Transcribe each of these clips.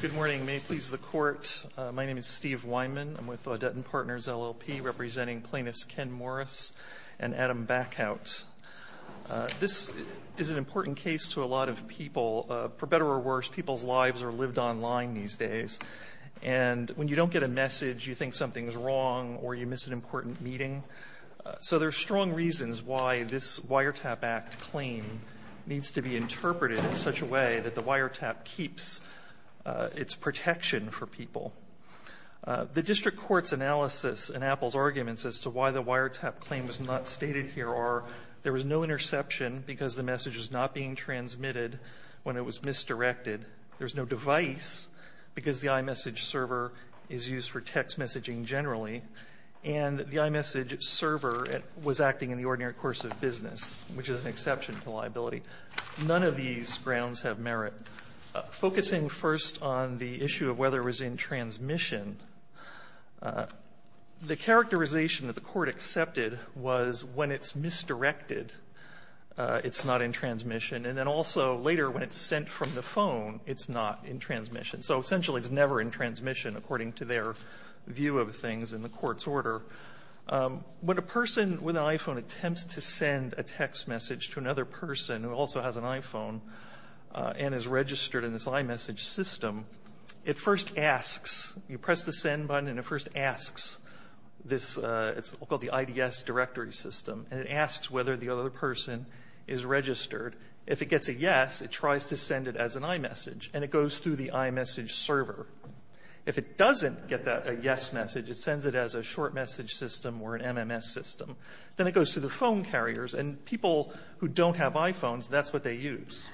Good morning. May it please the Court. My name is Steve Weinman. I'm with Audutin Partners, LLP, representing plaintiffs Ken Morris and Adam Backhaut. This is an important case to a lot of people. For better or worse, people's lives are lived online these days. And when you don't get a message, you think something's wrong or you miss an important meeting. So there's strong reasons why this Wiretap Act claim needs to be interpreted in such a way that the wiretap keeps its protection for people. The district court's analysis in Apple's arguments as to why the wiretap claim was not stated here are there was no interception because the message was not being transmitted when it was misdirected. There's no device because the iMessage server is used for text messaging generally. And the iMessage server was acting in the ordinary course of business, which is an exception to liability. None of these grounds have merit. Focusing first on the issue of whether it was in transmission, the characterization that the Court accepted was when it's misdirected, it's not in transmission. And then also later when it's sent from the phone, it's not in transmission. So essentially it's never in transmission according to their view of things in the Court's order. When a person with an iPhone attempts to send a text message to another person who also has an iPhone and is registered in this iMessage system, it first asks, you press the send button and it first asks this, it's called the IDS directory system, and it asks whether the other person is registered. If it gets a yes, it tries to send it as an iMessage, and it goes through the iMessage server. If it doesn't get a yes message, it sends it as a short message system or an MMS system. Then it goes through the phone carriers, and people who don't have iPhones, that's what they use.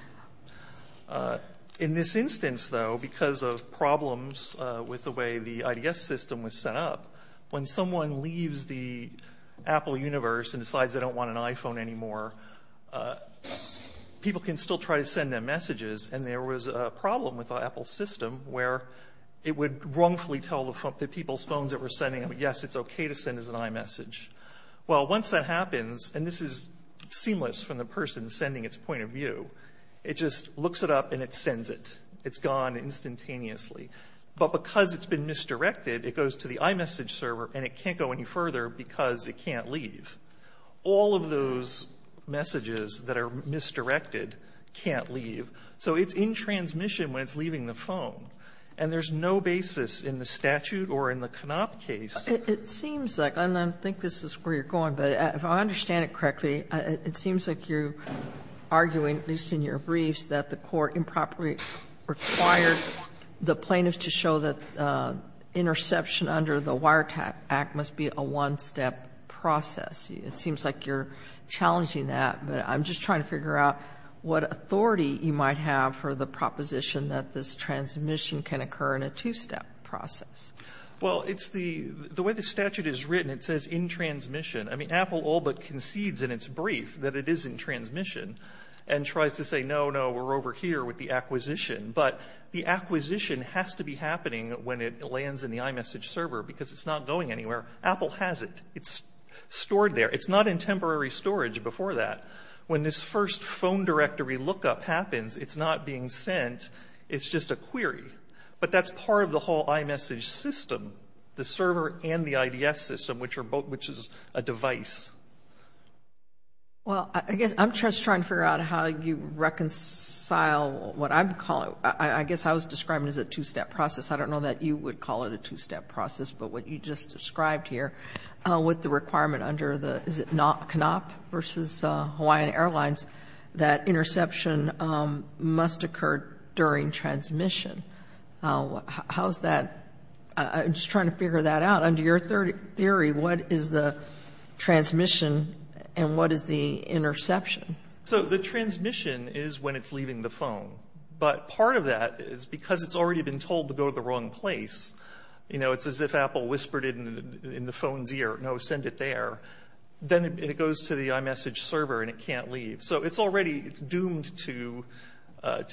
In this instance, though, because of problems with the way the IDS system was set up, when someone leaves the Apple universe and decides they don't want an iPhone anymore, people can still try to send them messages. And there was a problem with the Apple system where it would wrongfully tell the people's phones that were sending it, yes, it's okay to send as an iMessage. Well, once that happens, and this is seamless from the person sending its point of view, it just looks it up and it sends it. It's gone instantaneously. But because it's been misdirected, it goes to the iMessage server and it can't go any further because it can't leave. All of those messages that are misdirected can't leave. So it's in transmission when it's leaving the phone. And there's no basis in the statute or in the Knopp case. Sotomayor, it seems like, and I think this is where you're going, but if I understand it correctly, it seems like you're arguing, at least in your briefs, that the court improperly required the plaintiffs to show that interception under the Wiretap Act must be a one-step process. It seems like you're challenging that. But I'm just trying to figure out what authority you might have for the proposition that this transmission can occur in a two-step process. Well, it's the way the statute is written. It says in transmission. I mean, Apple all but concedes in its brief that it is in transmission and tries to say, no, no, we're over here with the acquisition. But the acquisition has to be happening when it lands in the iMessage server because it's not going anywhere. Apple has it. It's stored there. It's not in temporary storage before that. When this first phone directory lookup happens, it's not being sent. It's just a query. But that's part of the whole iMessage system, the server and the IDS system, which is a device. Well, I guess I'm just trying to figure out how you reconcile what I would call it. I guess I was describing it as a two-step process. I don't know that you would call it a two-step process. But what you just described here with the requirement under the, is it CONOP versus Hawaiian Airlines, that interception must occur during transmission. How is that? I'm just trying to figure that out. Under your theory, what is the transmission and what is the interception? So the transmission is when it's leaving the phone. But part of that is because it's already been told to go to the wrong place. It's as if Apple whispered it in the phone's ear, no, send it there. Then it goes to the iMessage server and it can't leave. So it's already doomed to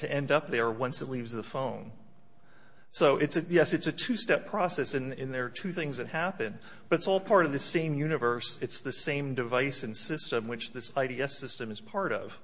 end up there once it leaves the phone. So, yes, it's a two-step process and there are two things that happen. But it's all part of the same universe. It's the same device and system which this IDS system is part of.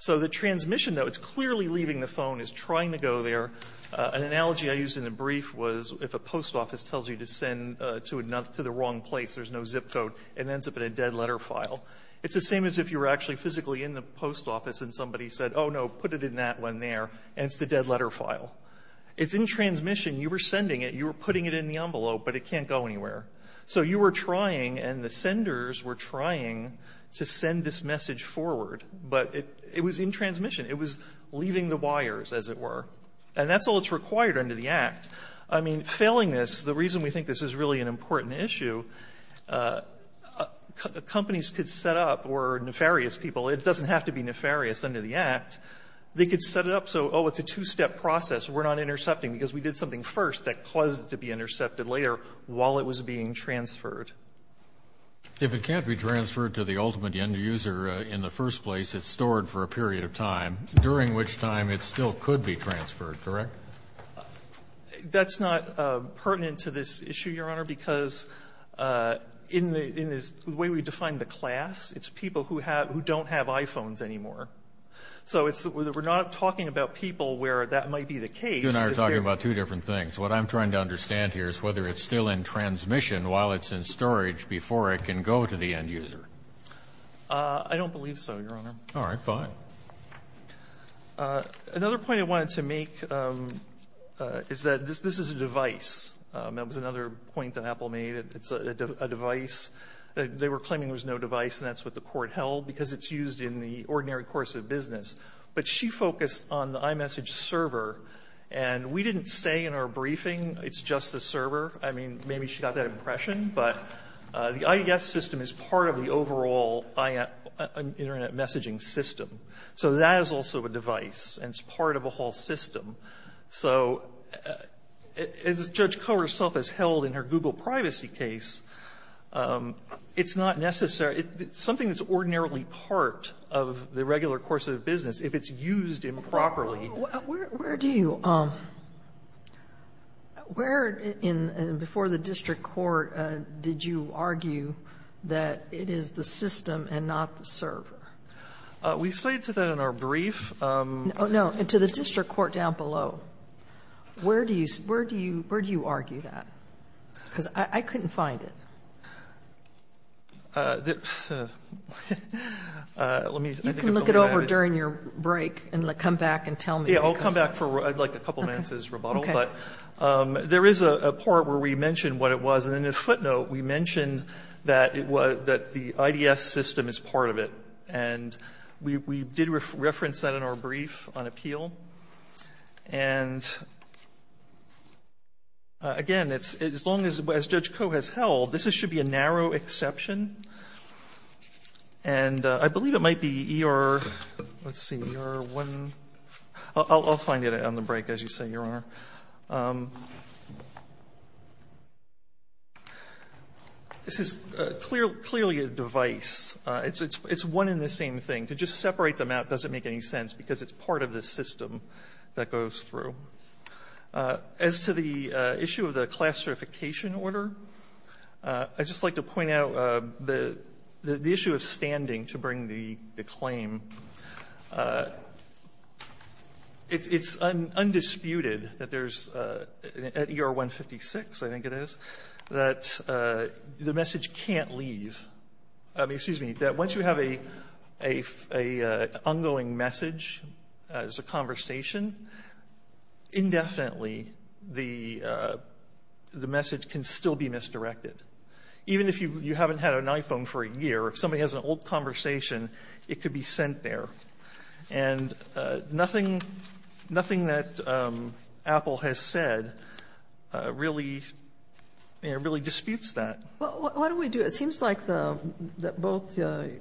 So the transmission, though, it's clearly leaving the phone. It's trying to go there. An analogy I used in the brief was if a post office tells you to send to the wrong place, there's no zip code, it ends up in a dead letter file. It's the same as if you were actually physically in the post office and somebody said, oh, no, put it in that one there, and it's the dead letter file. It's in transmission. You were sending it. You were putting it in the envelope, but it can't go anywhere. So you were trying and the senders were trying to send this message forward. But it was in transmission. It was leaving the wires, as it were. And that's all that's required under the Act. I mean, failing this, the reason we think this is really an important issue, companies could set up or nefarious people, it doesn't have to be nefarious under the Act, they could set it up so, oh, it's a two-step process, we're not intercepting because we did something first that caused it to be intercepted later while it was being transferred. If it can't be transferred to the ultimate end user in the first place, it's stored for a period of time, during which time it still could be transferred, correct? That's not pertinent to this issue, Your Honor, because in the way we define the class, it's people who don't have iPhones anymore. So we're not talking about people where that might be the case. Kennedy, you and I are talking about two different things. What I'm trying to understand here is whether it's still in transmission while it's in storage before it can go to the end user. I don't believe so, Your Honor. All right. Fine. Another point I wanted to make is that this is a device. That was another point that Apple made. It's a device. They were claiming there was no device, and that's what the Court held, because it's used in the ordinary course of business. But she focused on the iMessage server. And we didn't say in our briefing it's just the server. I mean, maybe she got that impression. But the IES system is part of the overall internet messaging system. So that is also a device, and it's part of a whole system. So as Judge Koh herself has held in her Google privacy case, it's not necessary to do something that's ordinarily part of the regular course of business if it's used improperly. Where do you argue that it is the system and not the server? We cited that in our brief. Oh, no. To the district court down below, where do you argue that? Because I couldn't find it. Let me think about that. You can look it over during your break and come back and tell me. Yeah. I'll come back for like a couple minutes as rebuttal. Okay. But there is a part where we mentioned what it was. And in the footnote, we mentioned that the IES system is part of it. And we did reference that in our brief on appeal. And again, as long as Judge Koh has held, this should be a narrow exception. And I believe it might be ER, let's see, ER 1. I'll find it on the break as you say, Your Honor. This is clearly a device. It's one and the same thing. To just separate them out doesn't make any sense because it's part of the system that goes through. As to the issue of the class certification order, I'd just like to point out the issue of standing to bring the claim. It's undisputed that there's at ER 156, I think it is, that the message can't leave me, excuse me, that once you have an ongoing message as a conversation, indefinitely the message can still be misdirected. Even if you haven't had an iPhone for a year, if somebody has an old conversation, it could be sent there. And nothing that Apple has said really disputes that. What do we do? It seems like both Mr.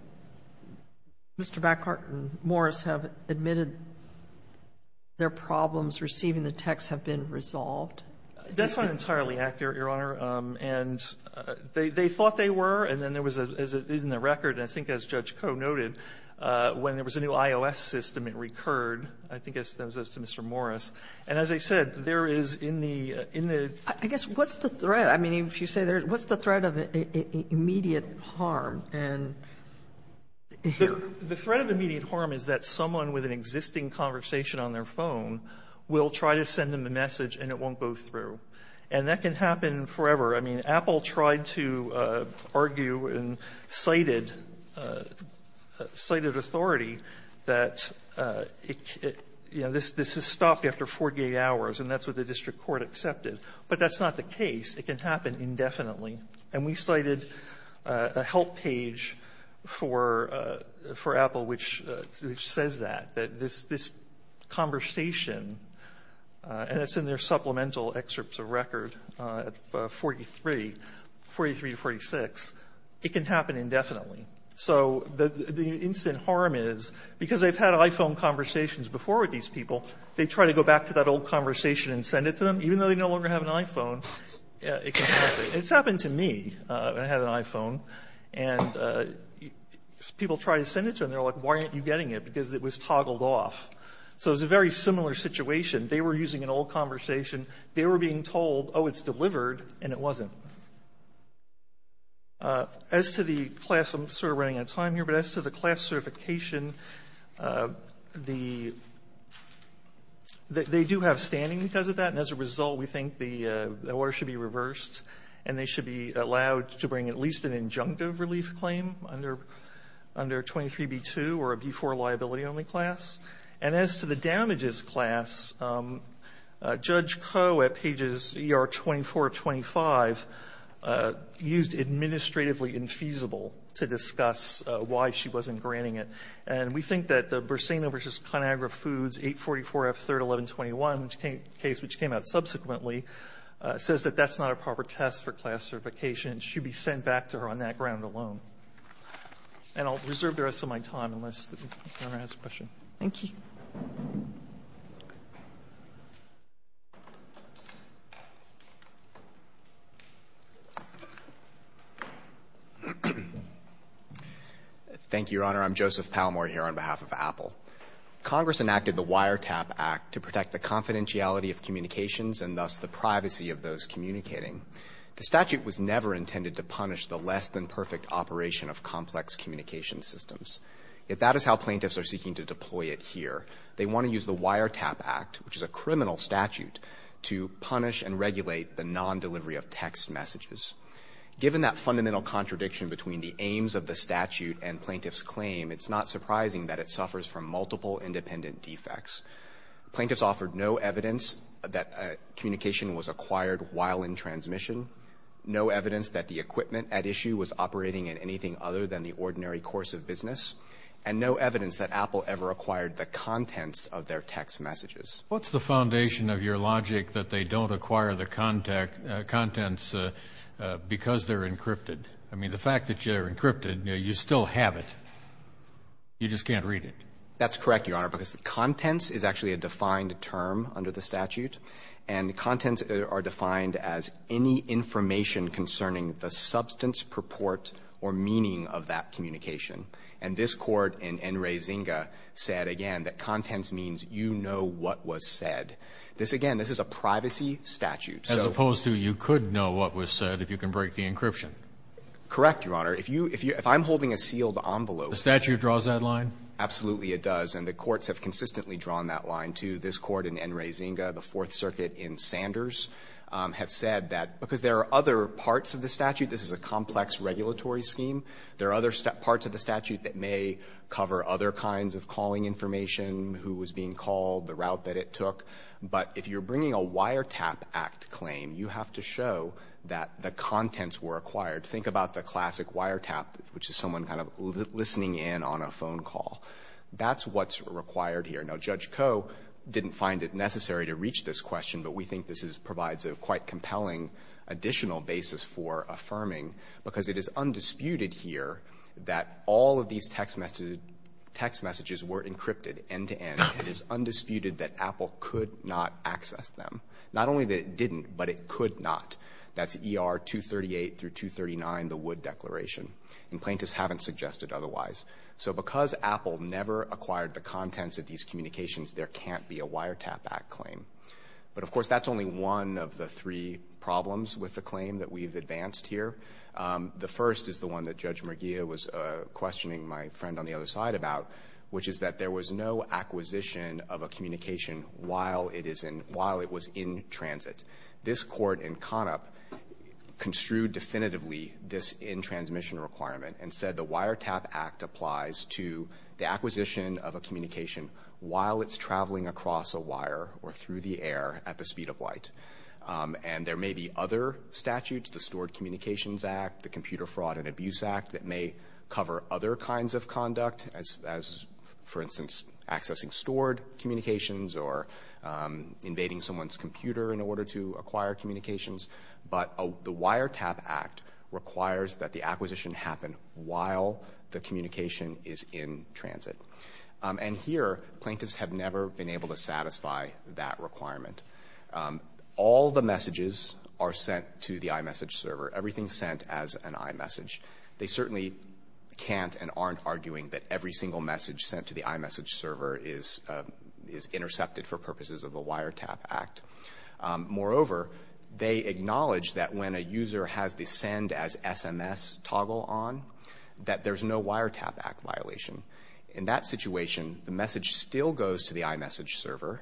Backhart and Morris have admitted their problems receiving the text have been resolved. That's not entirely accurate, Your Honor. And they thought they were, and then there was, as is in the record, and I think as Judge Koh noted, when there was a new iOS system, it recurred. I think that was as to Mr. Morris. And as I said, there is in the, in the. I guess, what's the threat? I mean, if you say there's, what's the threat of immediate harm? And here. The threat of immediate harm is that someone with an existing conversation on their phone will try to send them the message and it won't go through. And that can happen forever. I mean, Apple tried to argue and cited, cited authority that, you know, this is stopped after 48 hours, and that's what the district court accepted. But that's not the case. It can happen indefinitely. And we cited a help page for, for Apple which, which says that. That this, this conversation, and it's in their supplemental excerpts of record at 43, 43 to 46, it can happen indefinitely. So the instant harm is, because they've had iPhone conversations before with these people, they try to go back to that old conversation and send it to them, even though they no longer have an iPhone, it can happen. It's happened to me. I had an iPhone. And people try to send it to them. They're like, why aren't you getting it? Because it was toggled off. So it's a very similar situation. They were using an old conversation. They were being told, oh, it's delivered, and it wasn't. As to the class, I'm sort of running out of time here, but as to the class certification, the, they do have standing because of that. And as a result, we think the order should be reversed and they should be allowed to bring at least an injunctive relief claim under, under 23b-2 or a b-4 liability only class. And as to the damages class, Judge Koh at pages ER-2425 used administratively feasible to discuss why she wasn't granting it. And we think that the Bursena v. ConAgra Foods 844F3-1121 case, which came out subsequently, says that that's not a proper test for class certification. It should be sent back to her on that ground alone. And I'll reserve the rest of my time unless the Governor has a question. Thank you. Thank you, Your Honor. I'm Joseph Palmore here on behalf of Apple. Congress enacted the Wiretap Act to protect the confidentiality of communications and thus the privacy of those communicating. The statute was never intended to punish the less-than-perfect operation of complex communication systems. Yet that is how plaintiffs are seeking to deploy it here. They want to use the Wiretap Act, which is a criminal statute, to punish and regulate the nondelivery of text messages. Given that fundamental contradiction between the aims of the statute and plaintiffs' claim, it's not surprising that it suffers from multiple independent defects. Plaintiffs offered no evidence that communication was acquired while in transmission, no evidence that the equipment at issue was operating in anything other than the ordinary course of business, and no evidence that Apple ever acquired the contents of their text messages. What's the foundation of your logic that they don't acquire the contents because they're encrypted? I mean, the fact that they're encrypted, you still have it. You just can't read it. That's correct, Your Honor, because contents is actually a defined term under the statute, and contents are defined as any information concerning the substance, purport, or meaning of that communication. And this Court in Enrizinga said, again, that contents means you know what was said. This, again, this is a privacy statute, so. As opposed to you could know what was said if you can break the encryption. Correct, Your Honor. If you – if I'm holding a sealed envelope. The statute draws that line? Absolutely it does, and the courts have consistently drawn that line, too. This Court in Enrizinga, the Fourth Circuit in Sanders, have said that because there are other parts of the statute. This is a complex regulatory scheme. There are other parts of the statute that may cover other kinds of calling information, who was being called, the route that it took. But if you're bringing a wiretap act claim, you have to show that the contents were acquired. Think about the classic wiretap, which is someone kind of listening in on a phone call. That's what's required here. Now, Judge Koh didn't find it necessary to reach this question, but we think this provides a quite compelling additional basis for affirming, because it is undisputed here that all of these text messages were encrypted end-to-end. It is undisputed that Apple could not access them. Not only that it didn't, but it could not. That's ER 238 through 239, the Wood Declaration. And plaintiffs haven't suggested otherwise. So because Apple never acquired the contents of these communications, there can't be a wiretap act claim. But, of course, that's only one of the three problems with the claim that we've advanced here. The first is the one that Judge Merguia was questioning my friend on the other side about, which is that there was no acquisition of a communication while it is in — while it was in transit. This Court in Conop construed definitively this in-transmission requirement and said the wiretap act applies to the acquisition of a communication while it's in the air at the speed of light. And there may be other statutes, the Stored Communications Act, the Computer Fraud and Abuse Act, that may cover other kinds of conduct as, for instance, accessing stored communications or invading someone's computer in order to acquire communications. But the wiretap act requires that the acquisition happen while the communication is in transit. And here, plaintiffs have never been able to satisfy that requirement. All the messages are sent to the iMessage server. Everything is sent as an iMessage. They certainly can't and aren't arguing that every single message sent to the iMessage server is intercepted for purposes of the wiretap act. Moreover, they acknowledge that when a user has the send as SMS toggle on, that there's no wiretap act violation. In that situation, the message still goes to the iMessage server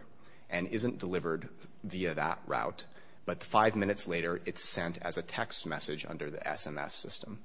and isn't delivered via that route. But five minutes later, it's sent as a text message under the SMS system.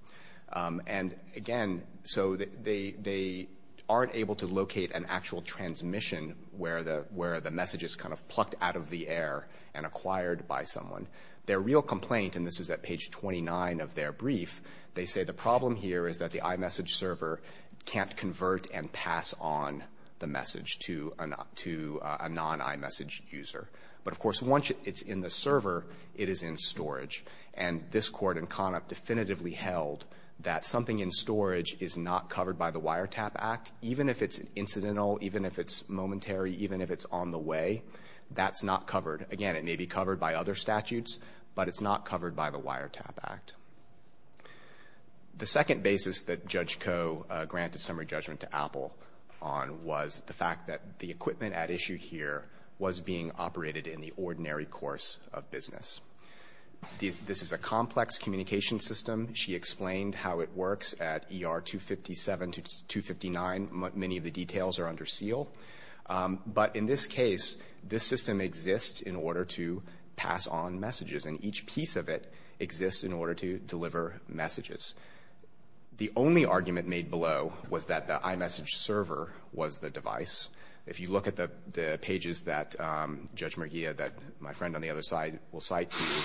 And, again, so they aren't able to locate an actual transmission where the message is kind of plucked out of the air and acquired by someone. Their real complaint, and this is at page 29 of their brief, they say the problem here is that the iMessage server can't convert and pass on the message to a non-iMessage user. But, of course, once it's in the server, it is in storage. And this Court in CONOP definitively held that something in storage is not covered by the wiretap act, even if it's incidental, even if it's momentary, even if it's on the way. That's not covered. Again, it may be covered by other statutes, but it's not covered by the wiretap act. The second basis that Judge Koh granted summary judgment to Apple on was the fact that the equipment at issue here was being operated in the ordinary course of business. This is a complex communication system. She explained how it works at ER 257 to 259. Many of the details are under seal. But, in this case, this system exists in order to pass on messages. And each piece of it exists in order to deliver messages. The only argument made below was that the iMessage server was the device. If you look at the pages that Judge Merguia, my friend on the other side, will cite to you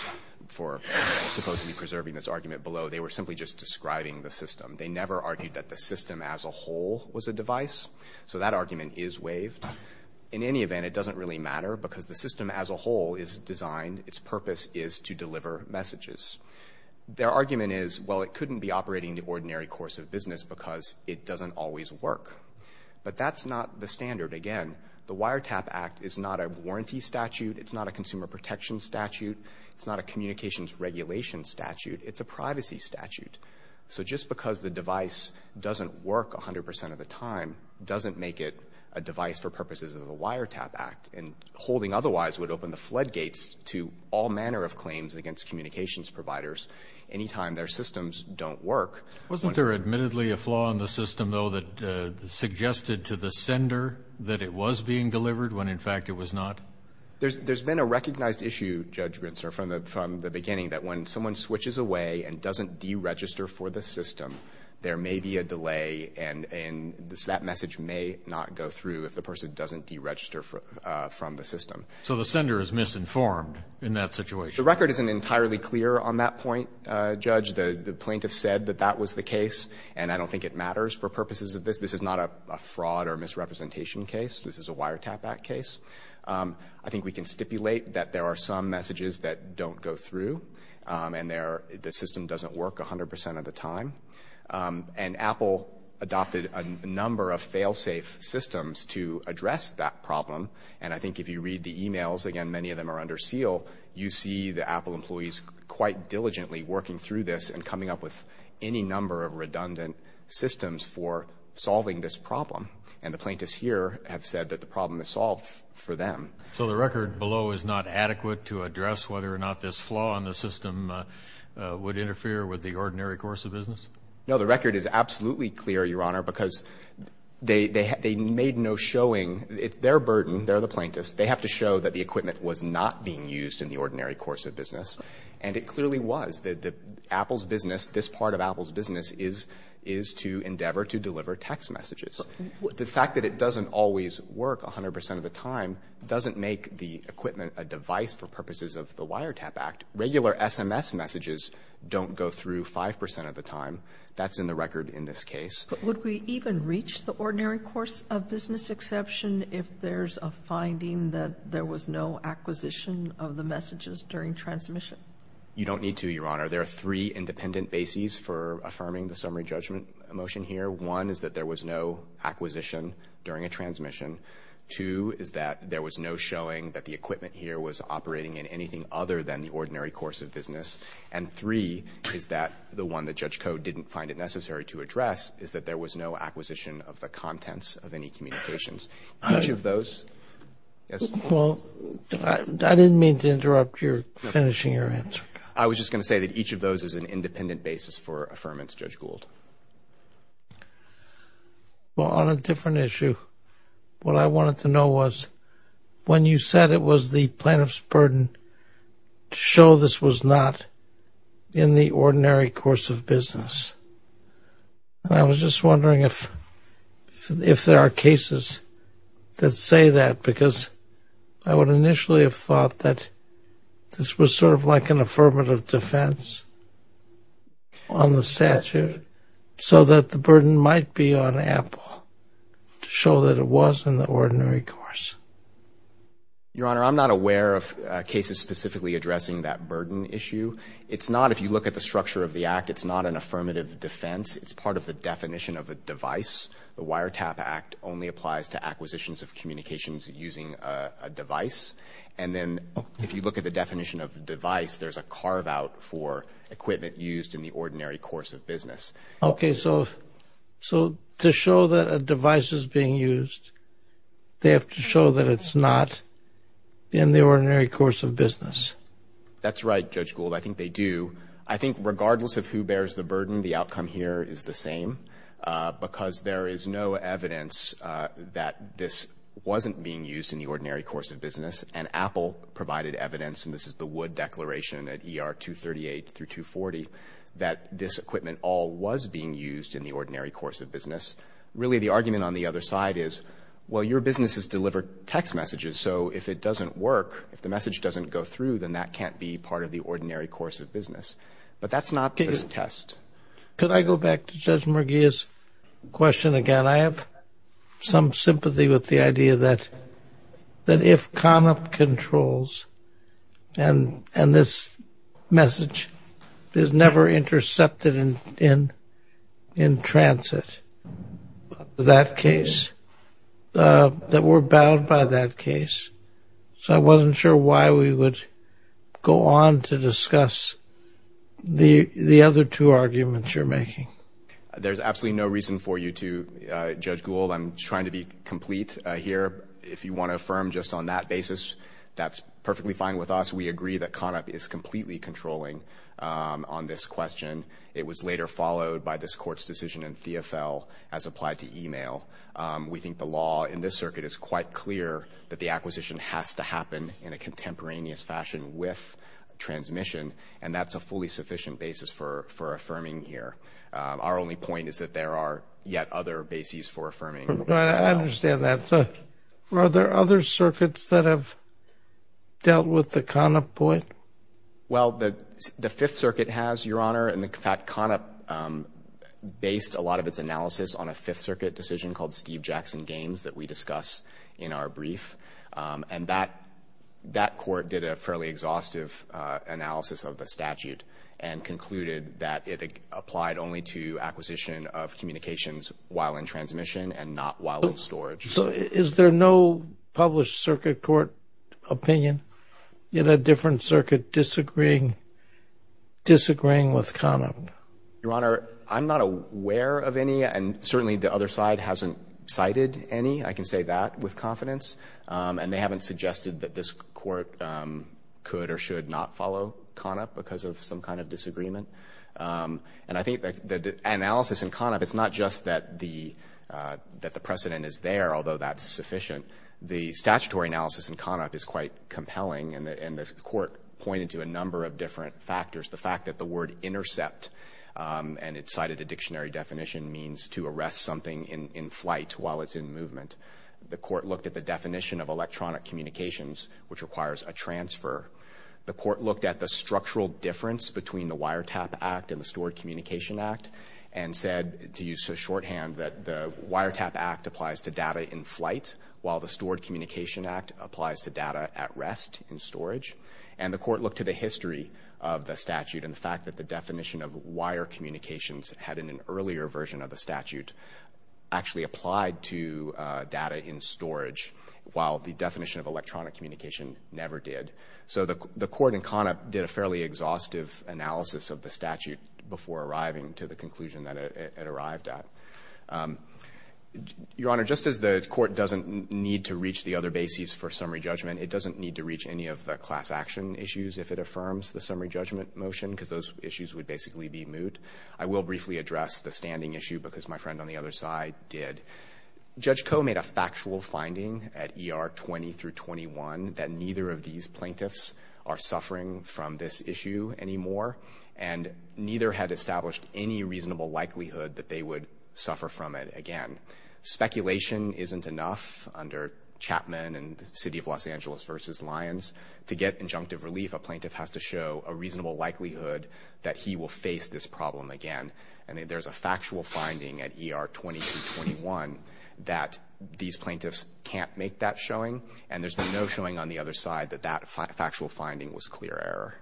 for supposedly preserving this argument below, they were simply just describing the system. They never argued that the system as a whole was a device. So that argument is waived. In any event, it doesn't really matter because the system as a whole is designed. Its purpose is to deliver messages. Their argument is, well, it couldn't be operating the ordinary course of business because it doesn't always work. But that's not the standard. Again, the wiretap act is not a warranty statute. It's not a consumer protection statute. It's not a communications regulation statute. It's a privacy statute. So just because the device doesn't work 100 percent of the time doesn't make it a device for purposes of the wiretap act. And holding otherwise would open the floodgates to all manner of claims against communications providers anytime their systems don't work. Wasn't there admittedly a flaw in the system, though, that suggested to the sender that it was being delivered when, in fact, it was not? There's been a recognized issue, Judge Rintzer, from the beginning that when someone switches away and doesn't deregister for the system, there may be a delay and that message may not go through if the person doesn't deregister from the system. So the sender is misinformed in that situation? The record isn't entirely clear on that point, Judge. The plaintiff said that that was the case. And I don't think it matters for purposes of this. This is not a fraud or misrepresentation case. This is a wiretap act case. I think we can stipulate that there are some messages that don't go through and the system doesn't work 100 percent of the time. And Apple adopted a number of fail-safe systems to address that problem. And I think if you read the e-mails, again, many of them are under seal, you see the Apple employees quite diligently working through this and coming up with any number of redundant systems for solving this problem. And the plaintiffs here have said that the problem is solved for them. So the record below is not adequate to address whether or not this flaw in the system would interfere with the ordinary course of business? No. The record is absolutely clear, Your Honor, because they made no showing. It's their burden. They're the plaintiffs. They have to show that the equipment was not being used in the ordinary course of business. And it clearly was. The Apple's business, this part of Apple's business is to endeavor to deliver text messages. The fact that it doesn't always work 100 percent of the time doesn't make the equipment a device for purposes of the Wiretap Act. Regular SMS messages don't go through 5 percent of the time. That's in the record in this case. But would we even reach the ordinary course of business exception if there's a finding that there was no acquisition of the messages during transmission? You don't need to, Your Honor. There are three independent bases for affirming the summary judgment motion here. One is that there was no acquisition during a transmission. Two is that there was no showing that the equipment here was operating in anything other than the ordinary course of business. And three is that the one that Judge Code didn't find it necessary to address is that there was no acquisition of the contents of any communications. Each of those. Well, I didn't mean to interrupt your finishing your answer. I was just going to say that each of those is an independent basis for affirmance, Judge Gould. Well, on a different issue, what I wanted to know was when you said it was the plaintiff's burden to show this was not in the ordinary course of business. And I was just wondering if there are cases that say that because I would initially have thought that this was sort of like an affirmative defense on the statute so that the burden might be on Apple to show that it was in the ordinary course. Your Honor, I'm not aware of cases specifically addressing that burden issue. It's not if you look at the structure of the act. It's not an affirmative defense. It's part of the definition of a device. The Wiretap Act only applies to acquisitions of communications using a device. And then if you look at the definition of device, there's a carve out for equipment used in the ordinary course of business. Okay. So to show that a device is being used, they have to show that it's not in the ordinary course of business. That's right, Judge Gould. I think they do. I think regardless of who bears the burden, the outcome here is the same because there is no evidence that this wasn't being used in the ordinary course of business and Apple provided evidence, and this is the Wood Declaration at ER 238 through 240, that this equipment all was being used in the ordinary course of business. Really, the argument on the other side is, well, your businesses deliver text messages. So if it doesn't work, if the message doesn't go through, then that can't be part of the ordinary course of business. But that's not this test. Could I go back to Judge Mergia's question again? I have some sympathy with the idea that if CONOP controls, and this message is never intercepted in transit, that we're bound by that case. So I wasn't sure why we would go on to discuss the other two arguments you're making. There's absolutely no reason for you to, Judge Gould. I'm trying to be complete here. If you want to affirm just on that basis, that's perfectly fine with us. We agree that CONOP is completely controlling on this question. It was later followed by this Court's decision in Theofel as applied to email. We think the law in this circuit is quite clear that the acquisition has to happen in a contemporaneous fashion with transmission, and that's a fully sufficient basis for affirming here. Our only point is that there are yet other bases for affirming. I understand that. Are there other circuits that have dealt with the CONOP point? Well, the Fifth Circuit has, Your Honor. In fact, CONOP based a lot of its analysis on a Fifth Circuit decision called Steve Jackson Games that we discuss in our brief. And that court did a fairly exhaustive analysis of the statute and concluded that it applied only to acquisition of communications while in transmission and not while in storage. So is there no published circuit court opinion in a different circuit disagreeing with CONOP? Your Honor, I'm not aware of any, and certainly the other side hasn't cited any. I can say that with confidence. And they haven't suggested that this court could or should not follow CONOP because of some kind of disagreement. And I think the analysis in CONOP, it's not just that the precedent is there, although that's sufficient. The statutory analysis in CONOP is quite compelling, and the court pointed to a number of different factors. The fact that the word intercept, and it's cited a dictionary definition, means to arrest something in flight while it's in movement. The court looked at the definition of electronic communications, which requires a transfer. The court looked at the structural difference between the Wiretap Act and the Stored Communication Act and said, to use a shorthand, that the Wiretap Act applies to data in flight while the Stored Communication Act applies to data at rest in storage. And the court looked to the history of the statute and the fact that the definition of wire communications had in an earlier version of the statute actually applied to data in storage while the definition of electronic communication never did. So the court in CONOP did a fairly exhaustive analysis of the statute before arriving to the conclusion that it arrived at. Your Honor, just as the court doesn't need to reach the other bases for summary judgment, it doesn't need to reach any of the class action issues if it affirms the summary judgment motion because those issues would basically be moot. I will briefly address the standing issue because my friend on the other side did. Judge Koh made a factual finding at ER 20 through 21 that neither of these plaintiffs are suffering from this issue anymore, and neither had established any reasonable likelihood that they would suffer from it again. Speculation isn't enough under Chapman and the City of Los Angeles v. Lyons. To get injunctive relief, a plaintiff has to show a reasonable likelihood that he will face this problem again. And there's a factual finding at ER 20 through 21 that these plaintiffs can't make that showing, and there's no showing on the other side that that factual finding was clear error.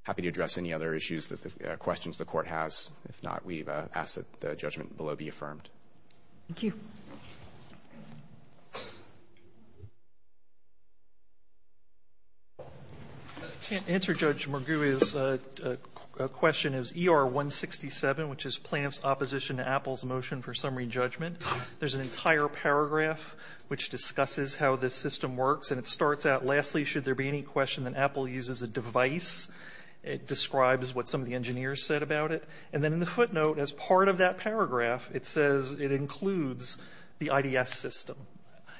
I'm happy to address any other issues, questions the Court has. If not, we ask that the judgment below be affirmed. Thank you. I can't answer Judge Mergui's question. It's ER 167, which is Plaintiff's Opposition to Apple's Motion for Summary Judgment. There's an entire paragraph which discusses how this system works, and it starts out, lastly, should there be any question that Apple uses a device? It describes what some of the engineers said about it. And then in the footnote, as part of that paragraph, it says it includes the IDS system.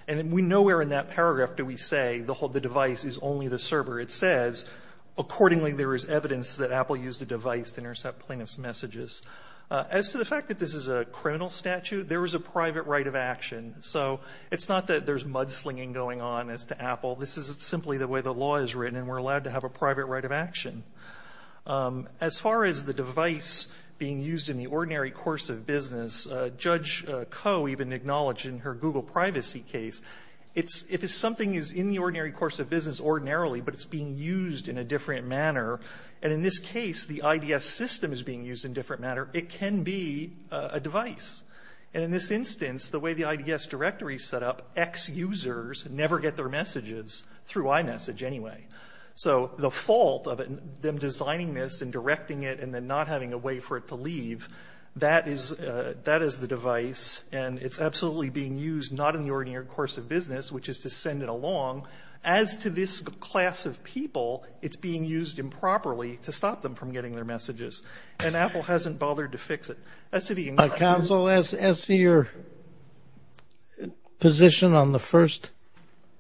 And we know where in that paragraph do we say the device is only the server. It says, accordingly, there is evidence that Apple used a device to intercept plaintiff's messages. As to the fact that this is a criminal statute, there is a private right of action. So it's not that there's mudslinging going on as to Apple. This is simply the way the law is written, and we're allowed to have a private right of action. As far as the device being used in the ordinary course of business, Judge Koh even acknowledged in her Google privacy case, if something is in the ordinary course of business ordinarily, but it's being used in a different manner, and in this case, the IDS system is being used in a different manner, it can be a device. And in this instance, the way the IDS directory is set up, X users never get their messages through iMessage anyway. So the fault of them designing this and directing it and then not having a way for it to leave, that is the device, and it's absolutely being used not in the ordinary course of business, which is to send it along. As to this class of people, it's being used improperly to stop them from getting their messages. And Apple hasn't bothered to fix it. As to the English version... Counsel, as to your position on the first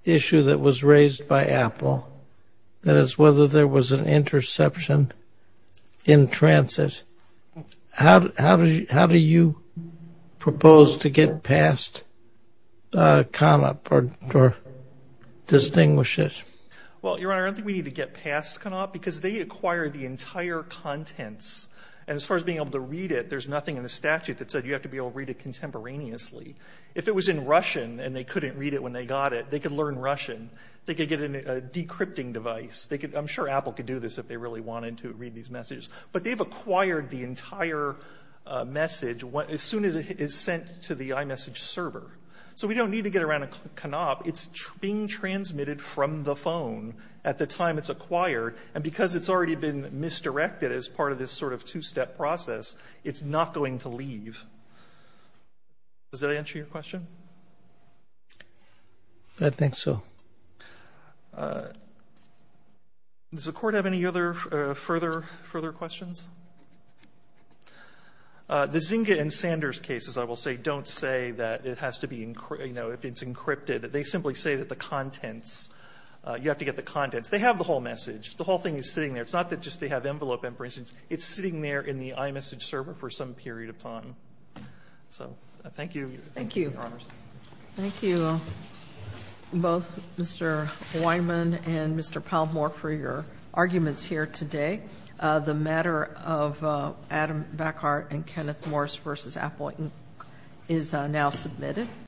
issue that was raised by Apple, that is whether there was an interception in transit, how do you propose to get past CONOP or distinguish it? Well, Your Honor, I don't think we need to get past CONOP because they acquire the entire contents. And as far as being able to read it, there's nothing in the statute that said you have to be able to read it contemporaneously. If it was in Russian and they couldn't read it when they got it, they could learn Russian. They could get a decrypting device. I'm sure Apple could do this if they really wanted to read these messages. But they've acquired the entire message as soon as it is sent to the iMessage server. So we don't need to get around to CONOP. It's being transmitted from the phone at the time it's acquired. And because it's already been misdirected as part of this sort of two-step process, it's not going to leave. Does that answer your question? I think so. Does the Court have any other further questions? The Zynga and Sanders cases, I will say, don't say that it has to be, you know, if it's encrypted. They simply say that the contents, you have to get the contents. They have the whole message. The whole thing is sitting there. It's not that just they have envelope imprints. It's sitting there in the iMessage server for some period of time. So thank you. Thank you. Thank you both, Mr. Weinman and Mr. Palmore, for your arguments here today. The matter of Adam Backhart and Kenneth Morris v. Appleton is now submitted.